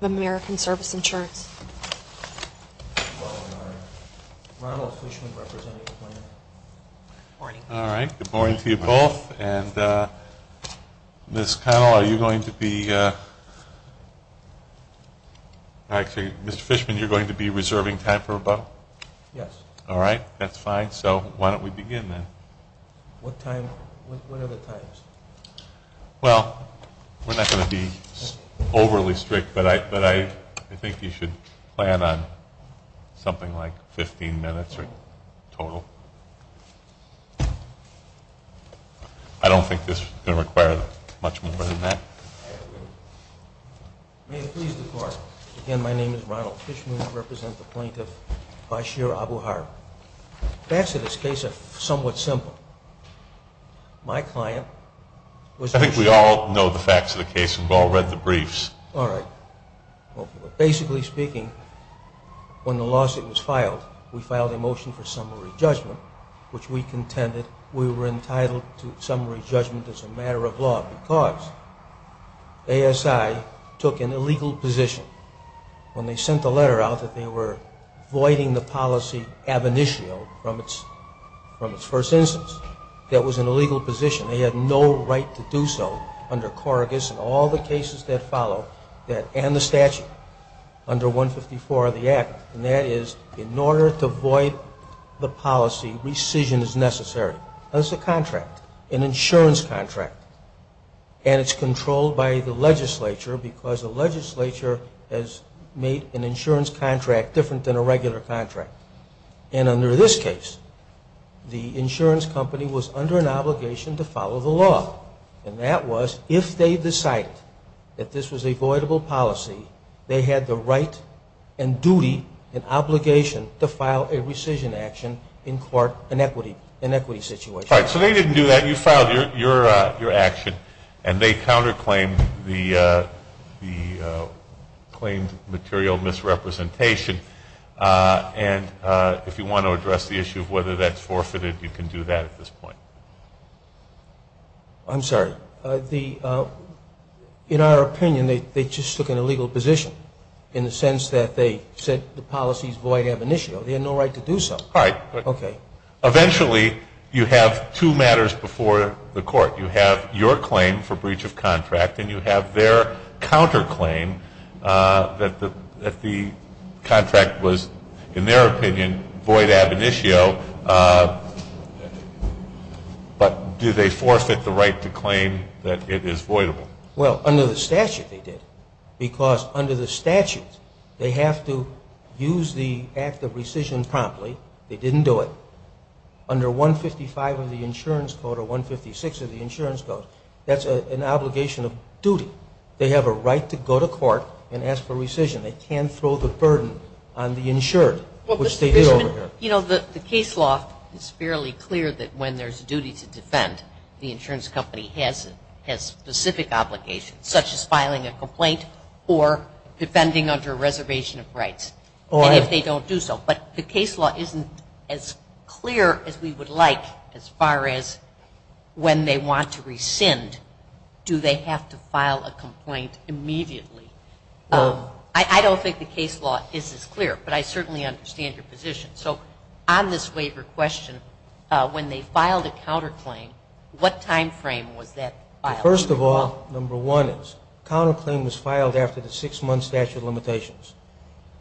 Good morning to you both. Ms. Connell, are you going to be, Mr. Fishman, are you going to be reserving time for rebuttal? Yes. Alright, that's fine. So why don't we begin then. What I think you should plan on something like 15 minutes total. I don't think this is going to require much more than that. May I please depart? Again, my name is Ronald Fishman. I represent the plaintiff, Basheer Abu-Har. The facts of this case are somewhat simple. My client was... I think we all know the facts of the case and we've all read the briefs. Alright. Well, basically speaking, when the lawsuit was filed, we filed a motion for summary judgment, which we contended we were entitled to summary judgment as a matter of law because ASI took an illegal position when they sent the letter out that they were voiding the policy ab initio from its first instance. That was an illegal position. They had no right to do so under Corrigus and all the cases that follow that, and the statute under 154 of the Act. And that is in order to void the policy, rescission is necessary. That's a contract, an insurance contract. And it's controlled by the legislature because the legislature has made an insurance contract different than a regular contract. And under this case, the insurance company was under an obligation to follow the law. And that was if they decided that this was a voidable policy, they had the right and duty and obligation to file a rescission action in court in an equity situation. Alright. So they didn't do that. You filed your action and they counterclaimed the claimed material misrepresentation. And if you want to address the issue of whether that's forfeited, you can do that at this point. I'm sorry. In our opinion, they just took an illegal position in the sense that they said the policy's void ab initio. They had no right to do so. Alright. Okay. Eventually, you have two matters before the court. You have your claim for that the contract was, in their opinion, void ab initio. But do they forfeit the right to claim that it is voidable? Well, under the statute, they did. Because under the statute, they have to use the act of rescission promptly. They didn't do it. Under 155 of the insurance code or 156 of the insurance code, that's an obligation of rescission. They can't throw the burden on the insured, which they did over here. You know, the case law is fairly clear that when there's a duty to defend, the insurance company has specific obligations, such as filing a complaint or defending under a reservation of rights. And if they don't do so. But the case law isn't as clear as we would like as far as when they want to rescind, do they have to file a complaint immediately? I don't think the case law is as clear, but I certainly understand your position. So on this waiver question, when they filed a counterclaim, what time frame was that filed? First of all, number one is counterclaim was filed after the six-month statute of limitations.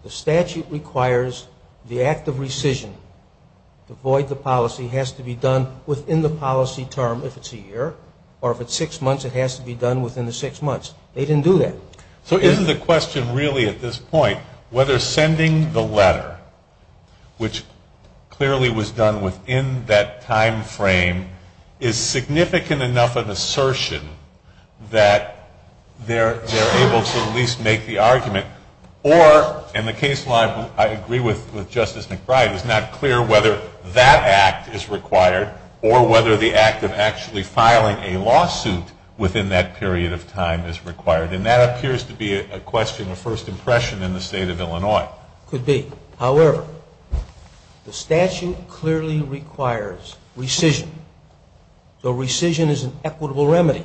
The statute requires the act of rescission to void the policy, has to be done within the policy term, if it's a year, or if it's six months, it has to be done within the six months. They didn't do that. So isn't the question really at this point whether sending the letter, which clearly was done within that time frame, is significant enough of an assertion that they're able to at least make the argument? Or in the case law, I agree with Justice McBride, it's not clear whether that act is required or whether the act of actually filing a lawsuit within that period of time is required. And that appears to be a question of first impression in the State of Illinois. Could be. However, the statute clearly requires rescission. So rescission is an equitable remedy.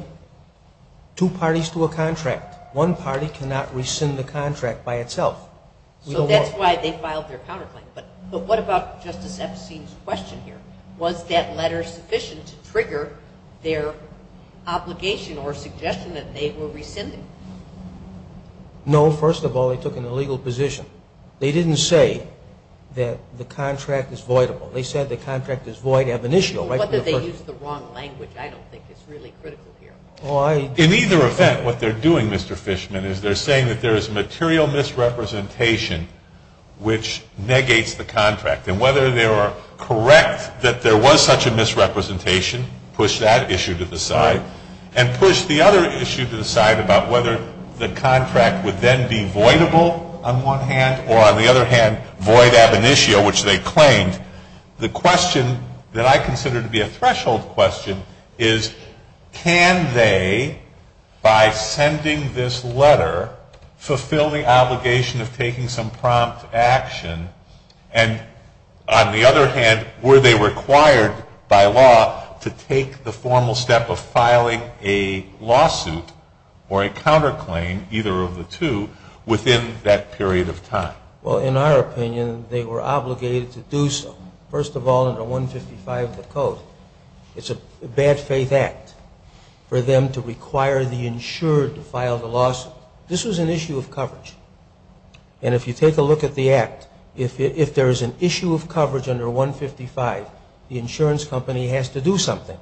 Two parties to a contract. One party cannot rescind the contract by itself. So that's why they filed their counterclaim. But what about Justice Epstein's question here? Was that letter sufficient to trigger their obligation or suggestion that they were rescinded? No, first of all, they took an illegal position. They didn't say that the contract is voidable. They said the contract is void ab initio. So what if they used the wrong language? I don't think it's really critical here. In either event, what they're doing, Mr. Fishman, is they're saying that there is material misrepresentation which negates the contract. And whether they are correct that there was such a misrepresentation, push that issue to the side, and push the other issue to the side about whether the contract would then be voidable on one hand, or on the other hand, void ab initio, which they claimed. The question that I consider to be a threshold question is can they, by sending this letter, fulfill the obligation of taking some prompt action? And on the other hand, were they required by law to take the formal step of filing a lawsuit or a counterclaim, either of the two, within that period of time? Well, in our opinion, they were obligated to do so. First of all, under 155 of the code, it's a bad faith act for them to require the insured to file the lawsuit. This was an issue of coverage. And if you take a look at the act, if there is an issue of coverage under 155, the insurance company has to do something.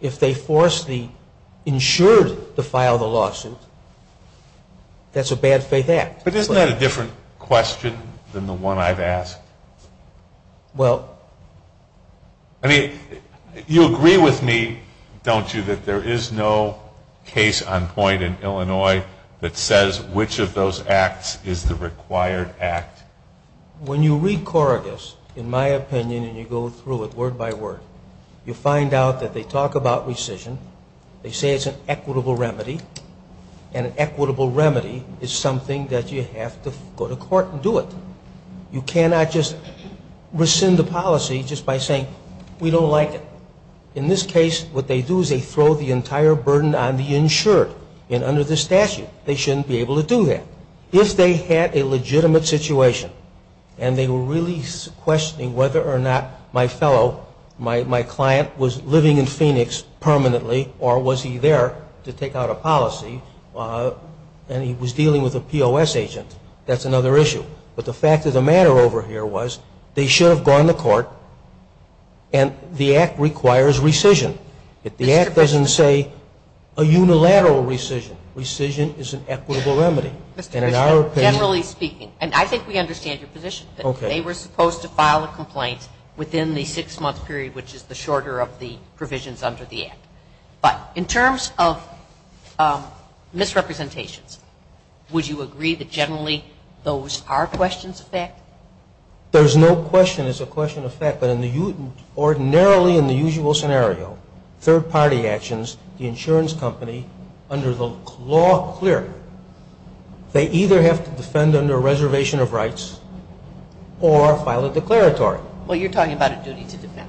If they force the insured to file the lawsuit, that's a bad faith act. But isn't that a different question than the one I've asked? Well... I mean, you agree with me, don't you, that there is no case on point in Illinois that says which of those acts is the required act? When you read Corrigus, in my opinion, and you go through it word by word, you find out that they talk about rescission, they say it's an equitable remedy, and an equitable remedy is something that you have to go to court and do it. You cannot just rescind the policy just by saying, we don't like it. In this case, what they do is they throw the entire burden on the insured. And under the statute, they shouldn't be able to do that. If they had a legitimate situation, and they were really questioning whether or not my fellow, my client was living in Phoenix permanently, or was he there to take out a policy, and he was dealing with a POS agent, that's another issue. But the fact of the matter over here was they should have gone to court, and the act requires rescission. The act doesn't say a unilateral rescission. Rescission is an equitable remedy. Generally speaking, and I think we understand your position, that they were supposed to file a complaint within the six-month period, which is the shorter of the provisions under the act. But in terms of misrepresentations, would you agree that generally those are questions of fact? There's no question it's a question of fact. But ordinarily in the usual scenario, third-party actions, the insurance company, under the law clear, they either have to defend under a reservation of rights or file a declaratory. Well, you're talking about a duty to defend.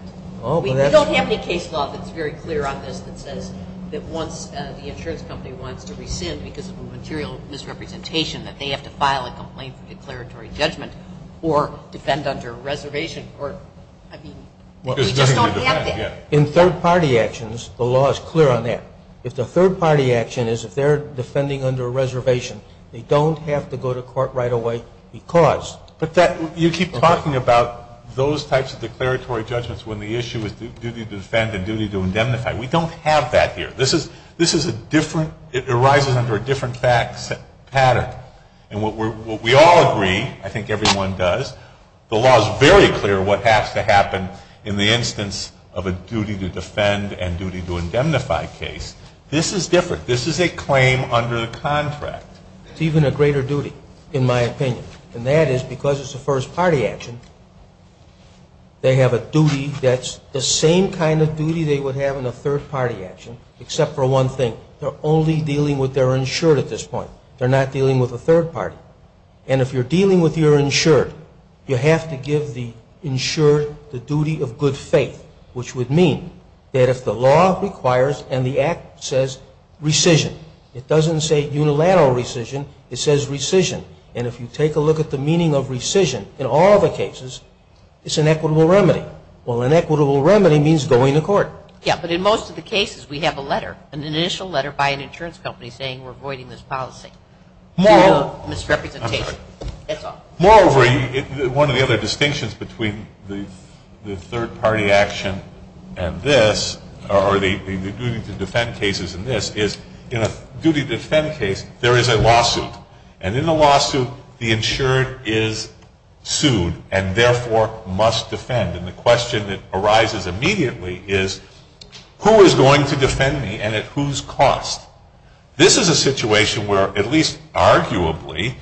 We don't have any case law that's very clear on this that says that once the insurance company wants to rescind because of a material misrepresentation, that they have to file a complaint for declaratory judgment or defend under a reservation. I mean, we just don't have that. In third-party actions, the law is clear on that. If the third-party action is if they're defending under a reservation, they don't have to go to court right away because. But you keep talking about those types of declaratory judgments when the issue is duty to defend and duty to indemnify. We don't have that here. This is a different – it arises under a different fact pattern. And what we all agree, I think everyone does, the law is very clear what has to happen in the instance of a duty to defend and duty to indemnify case. This is different. This is a claim under the contract. It's even a greater duty, in my opinion. And that is because it's a first-party action, they have a duty that's the same kind of duty they would have in a third-party action except for one thing. They're only dealing with their insured at this point. They're not dealing with a third party. And if you're dealing with your insured, you have to give the insured the duty of good faith, which would mean that if the law requires and the act says rescission, it doesn't say unilateral rescission. It says rescission. And if you take a look at the meaning of rescission in all of the cases, it's an equitable remedy. Well, an equitable remedy means going to court. Yeah, but in most of the cases we have a letter, an initial letter by an insurance company, saying we're voiding this policy due to misrepresentation. That's all. Moreover, one of the other distinctions between the third-party action and this, or the duty to defend cases and this, is in a duty to defend case, there is a lawsuit. And in the lawsuit, the insured is sued and therefore must defend. And the question that arises immediately is, who is going to defend me and at whose cost? This is a situation where, at least arguably,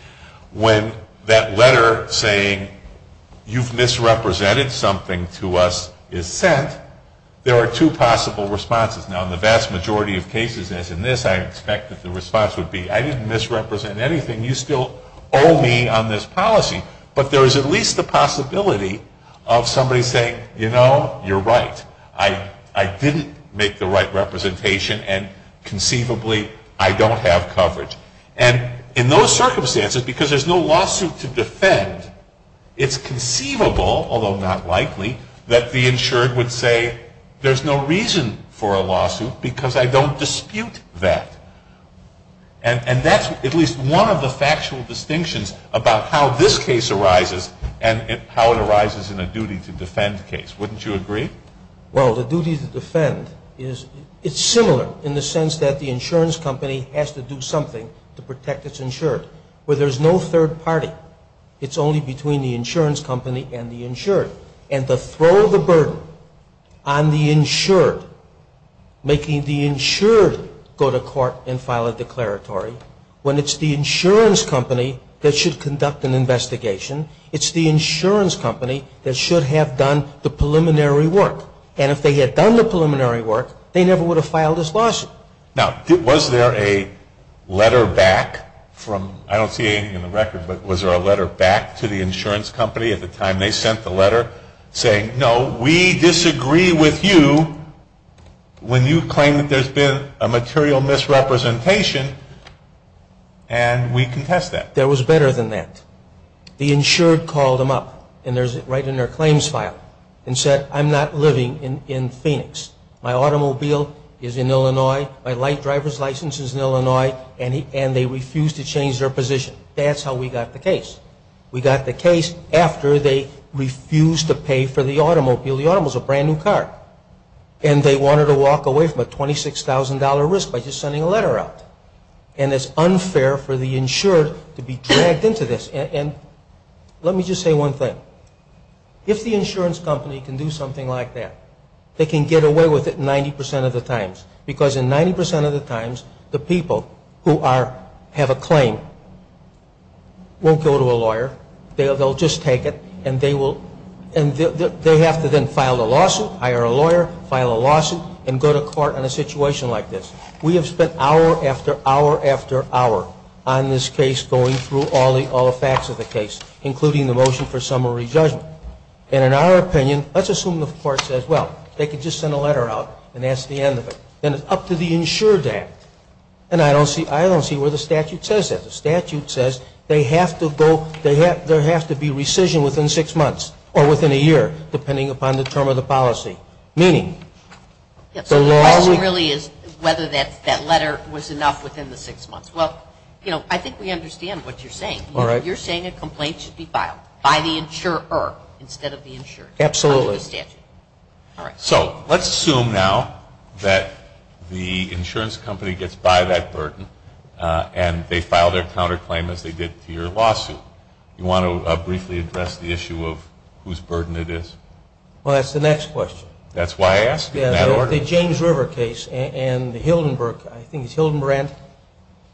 when that letter saying, you've misrepresented something to us, is sent, there are two possible responses. Now, in the vast majority of cases, as in this, I expect that the response would be, I didn't misrepresent anything. You still owe me on this policy. But there is at least the possibility of somebody saying, you know, you're right. I didn't make the right representation and conceivably I don't have coverage. And in those circumstances, because there's no lawsuit to defend, it's conceivable, although not likely, that the insured would say, there's no reason for a lawsuit because I don't dispute that. And that's at least one of the factual distinctions about how this case arises and how it arises in a duty to defend case. Wouldn't you agree? Well, the duty to defend is similar in the sense that the insurance company has to do something to protect its insured. Where there's no third party, it's only between the insurance company and the insured. And to throw the burden on the insured, making the insured go to court and file a declaratory, when it's the insurance company that should conduct an investigation, it's the insurance company that should have done the preliminary work. And if they had done the preliminary work, they never would have filed this lawsuit. Now, was there a letter back from, I don't see anything in the record, but was there a letter back to the insurance company at the time they sent the letter saying, no, we disagree with you when you claim that there's been a material misrepresentation and we contest that? There was better than that. The insured called them up, and there's it right in their claims file, and said, I'm not living in Phoenix. My automobile is in Illinois. My light driver's license is in Illinois. And they refused to change their position. That's how we got the case. We got the case after they refused to pay for the automobile. The automobile is a brand-new car. And they wanted to walk away from a $26,000 risk by just sending a letter out. And it's unfair for the insured to be dragged into this. And let me just say one thing. If the insurance company can do something like that, they can get away with it 90% of the times. Because in 90% of the times, the people who have a claim won't go to a lawyer. They'll just take it, and they have to then file a lawsuit, hire a lawyer, file a lawsuit, and go to court on a situation like this. We have spent hour after hour after hour on this case going through all the facts of the case, including the motion for summary judgment. And in our opinion, let's assume the court says, well, they could just send a letter out, and that's the end of it. Then it's up to the insured to act. And I don't see where the statute says that. The statute says there has to be rescission within six months or within a year, depending upon the term of the policy. So the question really is whether that letter was enough within the six months. Well, I think we understand what you're saying. You're saying a complaint should be filed by the insurer instead of the insured. Absolutely. So let's assume now that the insurance company gets by that burden, and they file their counterclaim as they did to your lawsuit. Do you want to briefly address the issue of whose burden it is? Well, that's the next question. That's why I asked. In that order. The James River case and the Hildenburg case, I think it's Hildenbrand,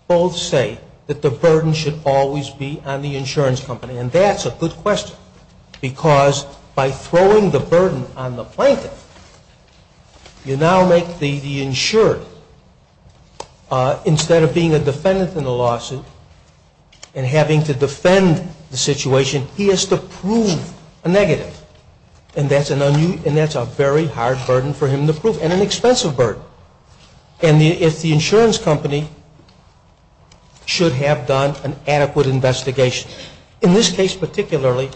both say that the burden should always be on the insurance company. And that's a good question because by throwing the burden on the plaintiff, you now make the insured, instead of being a defendant in the lawsuit and having to defend the situation, he has to prove a negative. And that's a very hard burden for him to prove and an expensive burden. And if the insurance company should have done an adequate investigation, in this case particularly,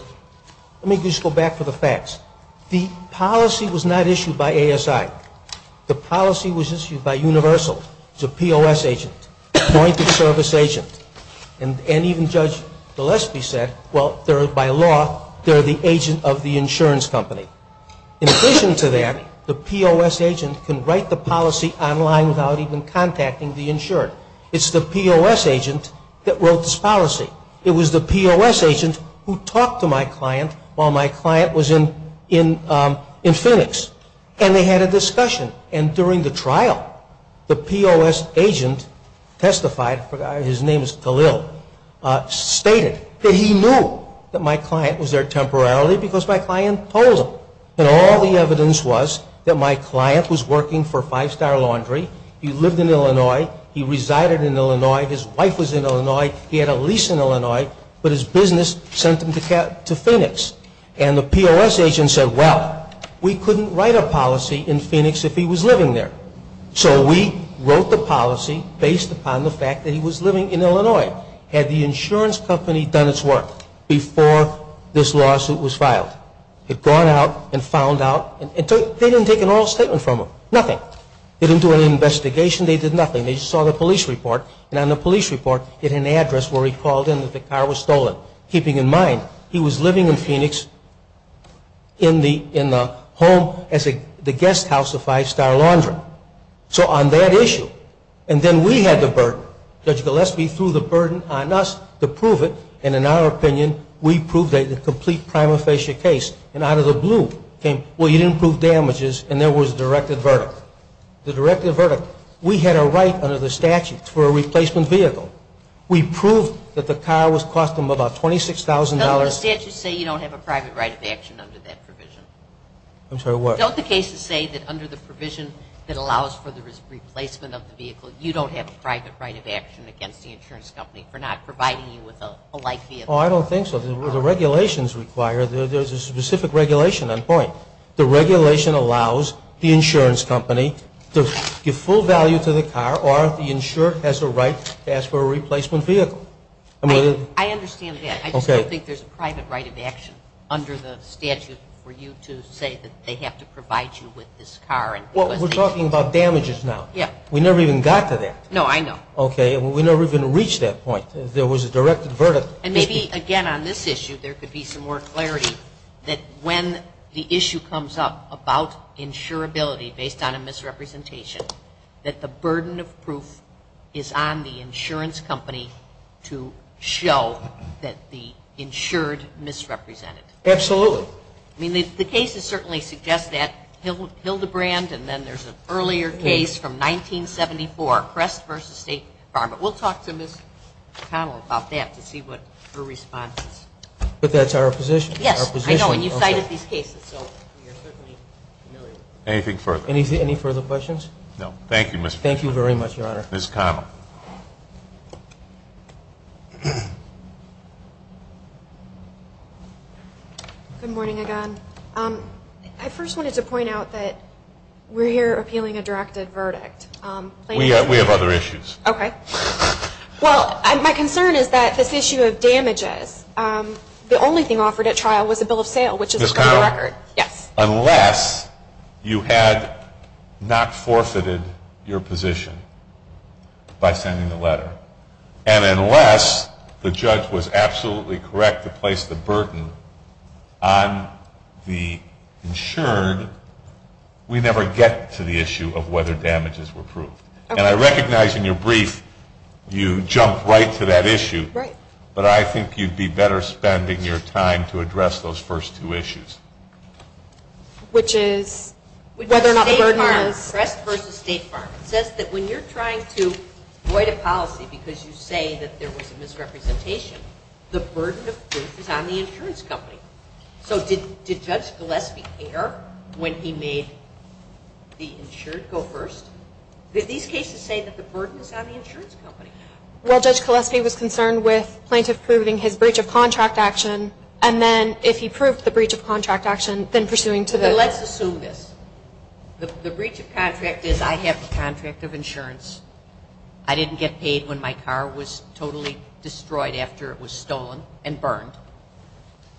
let me just go back to the facts. The policy was not issued by ASI. The policy was issued by Universal. It's a POS agent, a point of service agent. And even Judge Gillespie said, well, by law, they're the agent of the insurance company. In addition to that, the POS agent can write the policy online without even contacting the insured. It's the POS agent that wrote this policy. It was the POS agent who talked to my client while my client was in Phoenix. And they had a discussion. And during the trial, the POS agent testified, his name is Khalil, stated that he knew that my client was there temporarily because my client told him. And all the evidence was that my client was working for Five Star Laundry. He lived in Illinois. He resided in Illinois. His wife was in Illinois. He had a lease in Illinois. But his business sent him to Phoenix. And the POS agent said, well, we couldn't write a policy in Phoenix if he was living there. So we wrote the policy based upon the fact that he was living in Illinois. Had the insurance company done its work before this lawsuit was filed? Had gone out and found out? They didn't take an oral statement from him. Nothing. They didn't do any investigation. They did nothing. They just saw the police report. And on the police report, it had an address where he called in that the car was stolen, keeping in mind he was living in Phoenix in the home as the guest house of Five Star Laundry. So on that issue, and then we had the burden. Judge Gillespie threw the burden on us to prove it. And in our opinion, we proved a complete prima facie case. And out of the blue came, well, you didn't prove damages. And there was a directed verdict. The directed verdict, we had a right under the statute for a replacement vehicle. We proved that the car cost them about $26,000. Don't the statutes say you don't have a private right of action under that provision? I'm sorry, what? Don't the cases say that under the provision that allows for the replacement of the vehicle, you don't have a private right of action against the insurance company for not providing you with a light vehicle? Oh, I don't think so. The regulations require, there's a specific regulation on point. The regulation allows the insurance company to give full value to the car or the insurer has the right to ask for a replacement vehicle. I understand that. Okay. I just don't think there's a private right of action under the statute for you to say that they have to provide you with this car. Well, we're talking about damages now. Yeah. We never even got to that. No, I know. Okay. We never even reached that point. There was a directed verdict. And maybe, again, on this issue, there could be some more clarity that when the issue comes up about insurability based on a misrepresentation, that the burden of proof is on the insurance company to show that the insured misrepresented. Absolutely. I mean, the cases certainly suggest that. Hildebrand and then there's an earlier case from 1974, Crest v. State Farm. We'll talk to Ms. Connell about that to see what her response is. But that's our position. Yes, I know. And you cited these cases, so you're certainly familiar. Anything further? Any further questions? No. Thank you, Ms. Connell. Thank you very much, Your Honor. Ms. Connell. Good morning again. I first wanted to point out that we're here appealing a directed verdict. We have other issues. Okay. Well, my concern is that this issue of damages, the only thing offered at trial was a bill of sale, which is a current record. Ms. Connell. Yes. Unless you had not forfeited your position by sending the letter, and unless the judge was absolutely correct to place the burden on the insured, we never get to the issue of whether damages were proved. And I recognize in your brief you jumped right to that issue. Right. But I think you'd be better spending your time to address those first two issues. Which is whether or not the burden is. Crest v. State Farm says that when you're trying to avoid a policy because you say that there was a misrepresentation, the burden of proof is on the insurance company. So did Judge Gillespie care when he made the insured go first? These cases say that the burden is on the insurance company. Well, Judge Gillespie was concerned with plaintiff proving his breach of contract action, and then if he proved the breach of contract action, then pursuing to the. Let's assume this. The breach of contract is I have the contract of insurance. I didn't get paid when my car was totally destroyed after it was stolen and burned.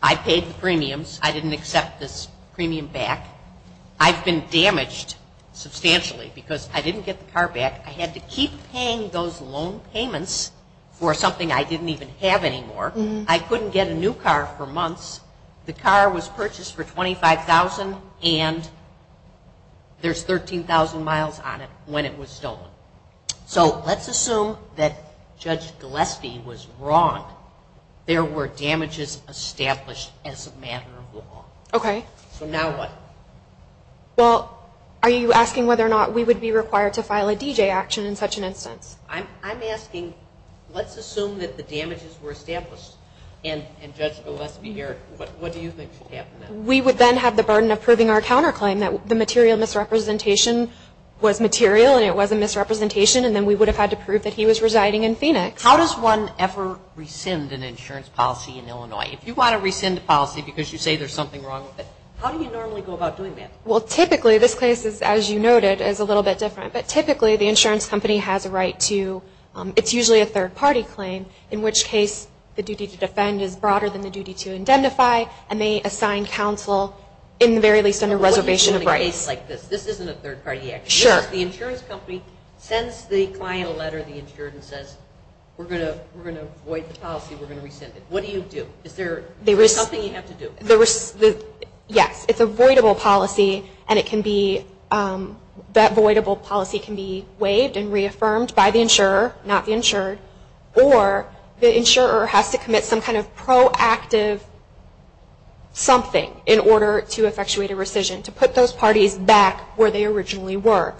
I paid the premiums. I didn't accept this premium back. I've been damaged substantially because I didn't get the car back. I had to keep paying those loan payments for something I didn't even have anymore. I couldn't get a new car for months. The car was purchased for $25,000, and there's 13,000 miles on it when it was stolen. So let's assume that Judge Gillespie was wrong. There were damages established as a matter of law. Okay. So now what? Well, are you asking whether or not we would be required to file a DJ action in such an instance? I'm asking, let's assume that the damages were established, and Judge Gillespie, what do you think should happen then? We would then have the burden of proving our counterclaim, that the material misrepresentation was material and it was a misrepresentation, and then we would have had to prove that he was residing in Phoenix. How does one ever rescind an insurance policy in Illinois? If you want to rescind a policy because you say there's something wrong with it, how do you normally go about doing that? Well, typically this case is, as you noted, is a little bit different. But typically the insurance company has a right to, it's usually a third-party claim, in which case the duty to defend is broader than the duty to indemnify, and they assign counsel in the very least under reservation of rights. What do you do in a case like this? This isn't a third-party action. Sure. The insurance company sends the client a letter of the insurance and says, we're going to void the policy, we're going to rescind it. What do you do? Is there something you have to do? Yes. It's a voidable policy, and it can be, that voidable policy can be waived and reaffirmed by the insurer, not the insured, or the insurer has to commit some kind of proactive something in order to effectuate a rescission, to put those parties back where they originally were.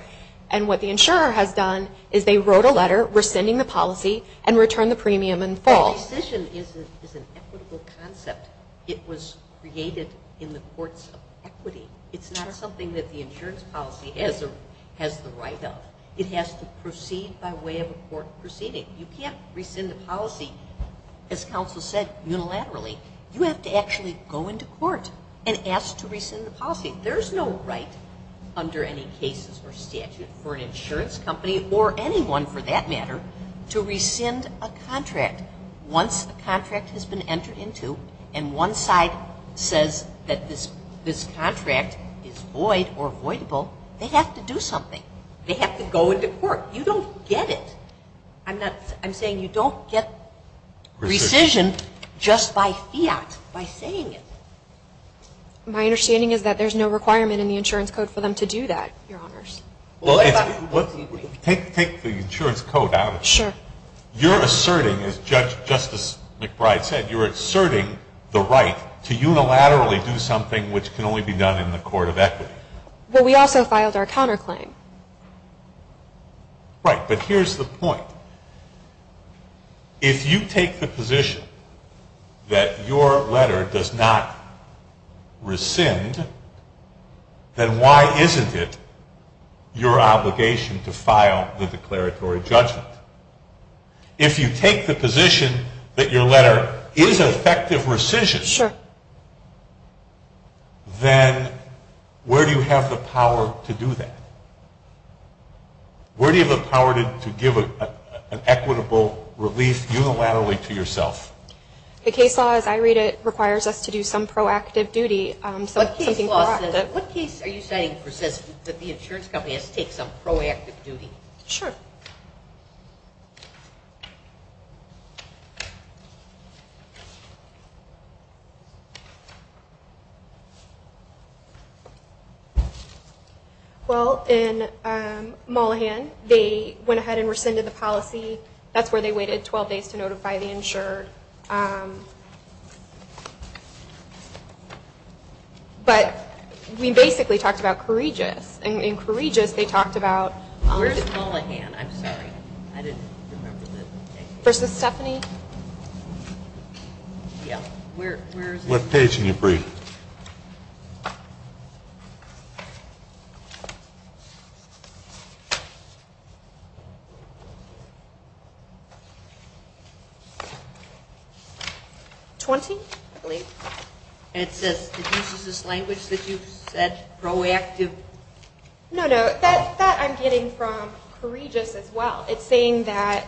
And what the insurer has done is they wrote a letter rescinding the policy and returned the premium in full. A rescission is an equitable concept. It was created in the courts of equity. It's not something that the insurance policy has the right of. It has to proceed by way of a court proceeding. You can't rescind a policy, as counsel said, unilaterally. You have to actually go into court and ask to rescind the policy. There's no right under any cases or statute for an insurance company, or anyone for that matter, to rescind a contract. Once a contract has been entered into and one side says that this contract is void or voidable, they have to do something. They have to go into court. You don't get it. I'm saying you don't get rescission just by fiat, by saying it. My understanding is that there's no requirement in the insurance code for them to do that, Your Honors. Take the insurance code out of it. Sure. You're asserting, as Justice McBride said, you're asserting the right to unilaterally do something which can only be done in the court of equity. Well, we also filed our counterclaim. Right, but here's the point. If you take the position that your letter does not rescind, then why isn't it your obligation to file the declaratory judgment? If you take the position that your letter is effective rescission, then where do you have the power to do that? Where do you have the power to give an equitable relief unilaterally to yourself? The case law, as I read it, requires us to do some proactive duty. What case law says that? What case are you citing that says that the insurance company has to take some proactive duty? Sure. Go ahead. Well, in Mullihan, they went ahead and rescinded the policy. That's where they waited 12 days to notify the insured. But we basically talked about courageous. In courageous, they talked about versus Stephanie. What page can you read? 20, I believe. It uses this language that you've said, proactive. No, no, that I'm getting from courageous as well. It's saying that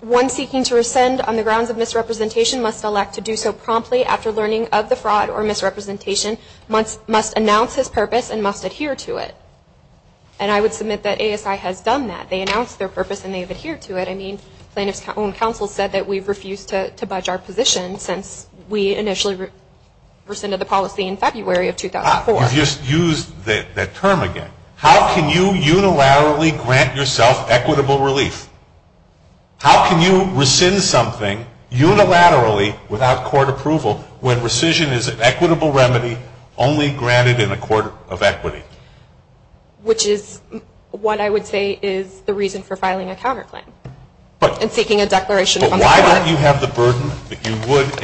one seeking to rescind on the grounds of misrepresentation must elect to do so promptly after learning of the fraud or misrepresentation, must announce his purpose, and must adhere to it. And I would submit that ASI has done that. They announced their purpose, and they've adhered to it. I mean, plaintiff's own counsel said that we've refused to budge our position since we initially rescinded the policy in February of 2004. You've just used that term again. How can you unilaterally grant yourself equitable relief? How can you rescind something unilaterally without court approval when rescission is an equitable remedy only granted in a court of equity? Which is what I would say is the reason for filing a counterclaim and seeking a declaration of understanding. But why don't you have the burden that you would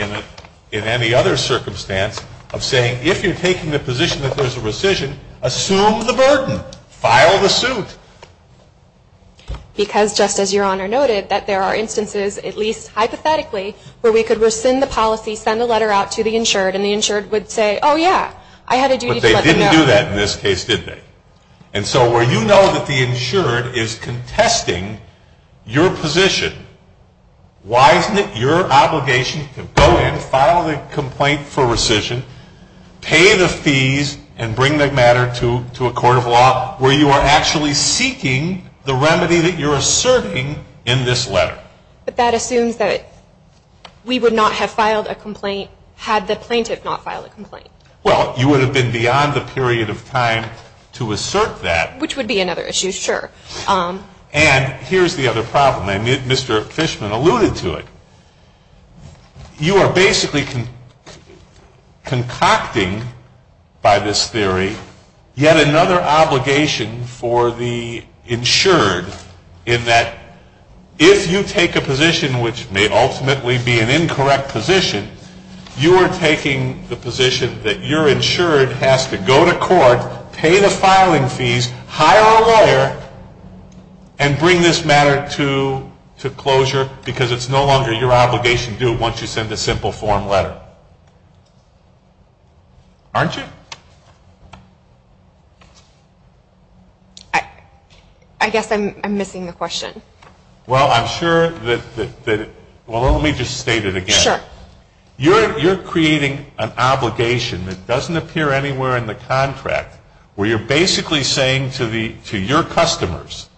in any other circumstance of saying if you're taking the position that there's a rescission, assume the burden. File the suit. Because, just as Your Honor noted, that there are instances, at least hypothetically, where we could rescind the policy, send a letter out to the insured, and the insured would say, oh, yeah, I had a duty to let them know. They didn't do that in this case, did they? And so where you know that the insured is contesting your position, why isn't it your obligation to go in, file the complaint for rescission, pay the fees, and bring the matter to a court of law where you are actually seeking the remedy that you're asserting in this letter? But that assumes that we would not have filed a complaint had the plaintiff not filed a complaint. Well, you would have been beyond the period of time to assert that. Which would be another issue, sure. And here's the other problem, and Mr. Fishman alluded to it. You are basically concocting by this theory yet another obligation for the insured in that if you take a position which may ultimately be an incorrect position, you are taking the position that your insured has to go to court, pay the filing fees, hire a lawyer, and bring this matter to closure because it's no longer your obligation to do it once you send a simple form letter. Aren't you? I guess I'm missing the question. Well, I'm sure that, well, let me just state it again. Sure. You're creating an obligation that doesn't appear anywhere in the contract where you're basically saying to your customers,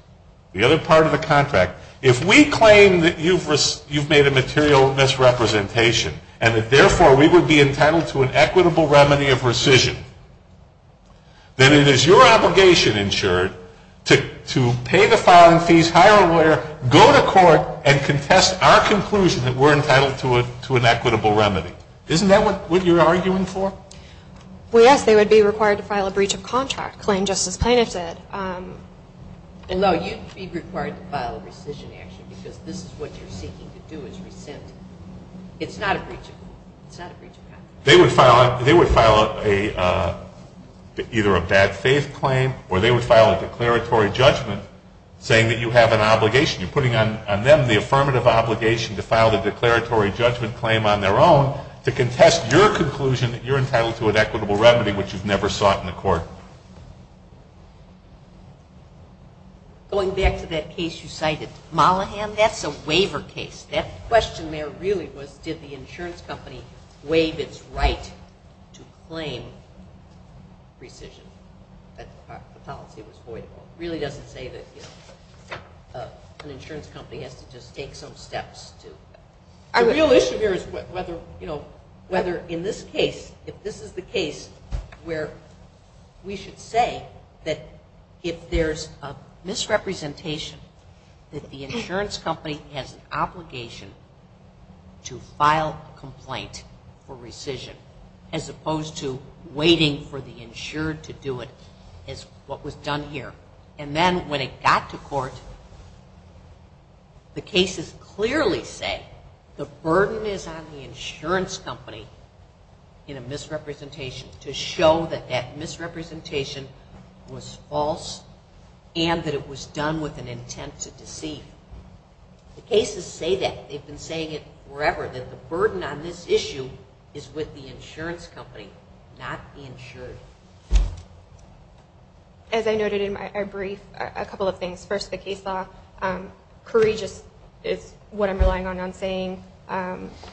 the other part of the contract, if we claim that you've made a material misrepresentation and that therefore we would be entitled to an equitable remedy of rescission, then it is your obligation, insured, to pay the filing fees, hire a lawyer, go to court, and contest our conclusion that we're entitled to an equitable remedy. Isn't that what you're arguing for? Well, yes. They would be required to file a breach of contract claim just as plaintiff said. No, you'd be required to file a rescission action because this is what you're seeking to do is rescind. It's not a breach of contract. They would file either a bad faith claim or they would file a declaratory judgment saying that you have an obligation. You're putting on them the affirmative obligation to file the declaratory judgment claim on their own to contest your conclusion that you're entitled to an equitable remedy which you've never sought in the court. Going back to that case you cited, Mollahan, that's a waiver case. That question there really was did the insurance company waive its right to claim rescission. The policy was void. It really doesn't say that an insurance company has to just take some steps. The real issue here is whether in this case, if this is the case where we should say that if there's a misrepresentation that the insurance company has an obligation to file a complaint for rescission as opposed to waiting for the insured to do it as what was done here. And then when it got to court the cases clearly say the burden is on the insurance company in a misrepresentation to show that that misrepresentation was false and that it was done with an intent to deceive. The cases say that. They've been saying it forever, that the burden on this issue is with the insurance company, not the insured. As I noted in my brief, a couple of things. First, the case law. Courageous is what I'm relying on saying.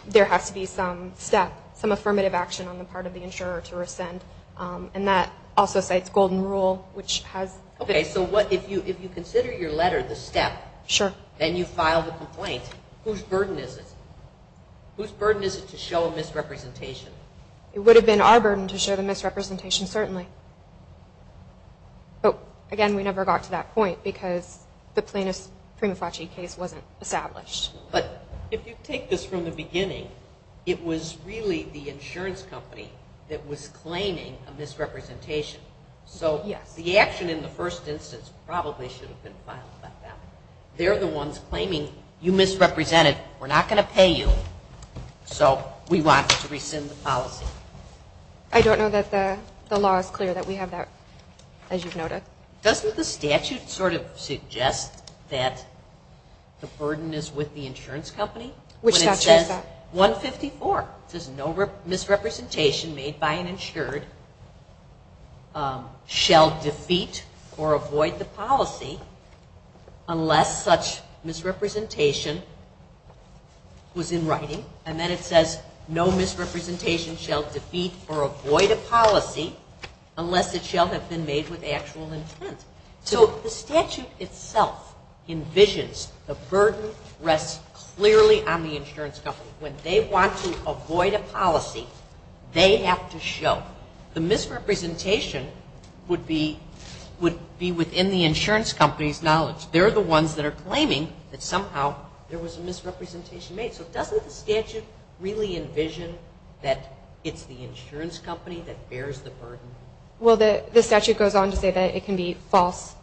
There has to be some step, some affirmative action on the part of the insurer to rescind. And that also cites Golden Rule, which has... Okay, so if you consider your letter the step, then you file the complaint. Whose burden is it? Whose burden is it to show a misrepresentation? It would have been our burden to show the misrepresentation, certainly. But, again, we never got to that point because the plaintiff's prima facie case wasn't established. But if you take this from the beginning, it was really the insurance company that was claiming a misrepresentation. So the action in the first instance probably should have been filed like that. They're the ones claiming, you misrepresented, we're not going to pay you, so we want to rescind the policy. I don't know that the law is clear that we have that, as you've noted. Doesn't the statute sort of suggest that the burden is with the insurance company? Which statute is that? 154. It says, No misrepresentation made by an insured shall defeat or avoid the policy unless such misrepresentation was in writing. And then it says, No misrepresentation shall defeat or avoid a policy unless it shall have been made with actual intent. So the statute itself envisions the burden rests clearly on the insurance company. When they want to avoid a policy, they have to show. The misrepresentation would be within the insurance company's knowledge. They're the ones that are claiming that somehow there was a misrepresentation made. So doesn't the statute really envision that it's the insurance company that bears the burden? Well, the statute goes on to say that it can be false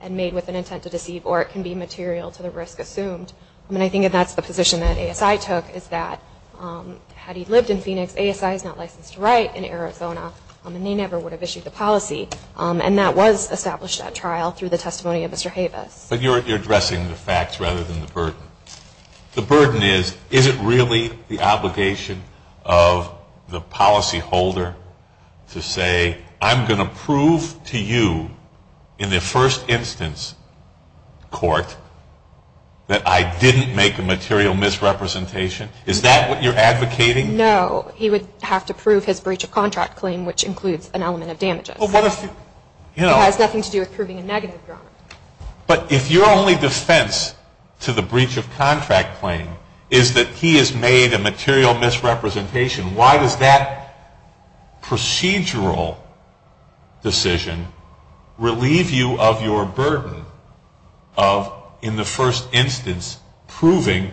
and made with an intent to deceive or it can be material to the risk assumed. And I think that that's the position that ASI took, is that had he lived in Phoenix, ASI is not licensed to write in Arizona, and they never would have issued the policy. And that was established at trial through the testimony of Mr. Havis. But you're addressing the facts rather than the burden. The burden is, is it really the obligation of the policyholder to say, I'm going to prove to you in the first instance court that I didn't make a material misrepresentation? Is that what you're advocating? No, he would have to prove his breach of contract claim, which includes an element of damages. It has nothing to do with proving a negative. But if your only defense to the breach of contract claim is that he has made a material misrepresentation, why does that procedural decision relieve you of your burden of, in the first instance, proving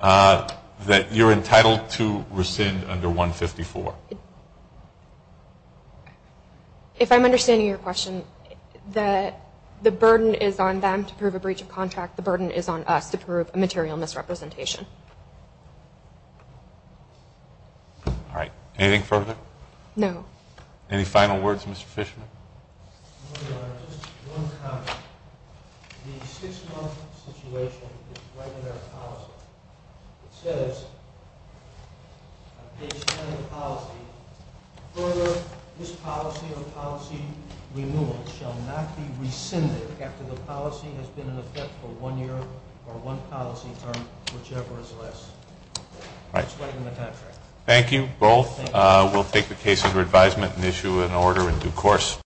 that you're entitled to rescind under 154? If I'm understanding your question, the burden is on them to prove a breach of contract. The burden is on us to prove a material misrepresentation. All right. Anything further? No. Any final words, Mr. Fishman? Your Honor, just one comment. The six-month situation is right in our policy. It says on page 10 of the policy, Further, this policy or policy renewal shall not be rescinded after the policy has been in effect for one year or one policy term, whichever is less. That's right in the contract. Thank you both. We'll take the case under advisement and issue an order in due course.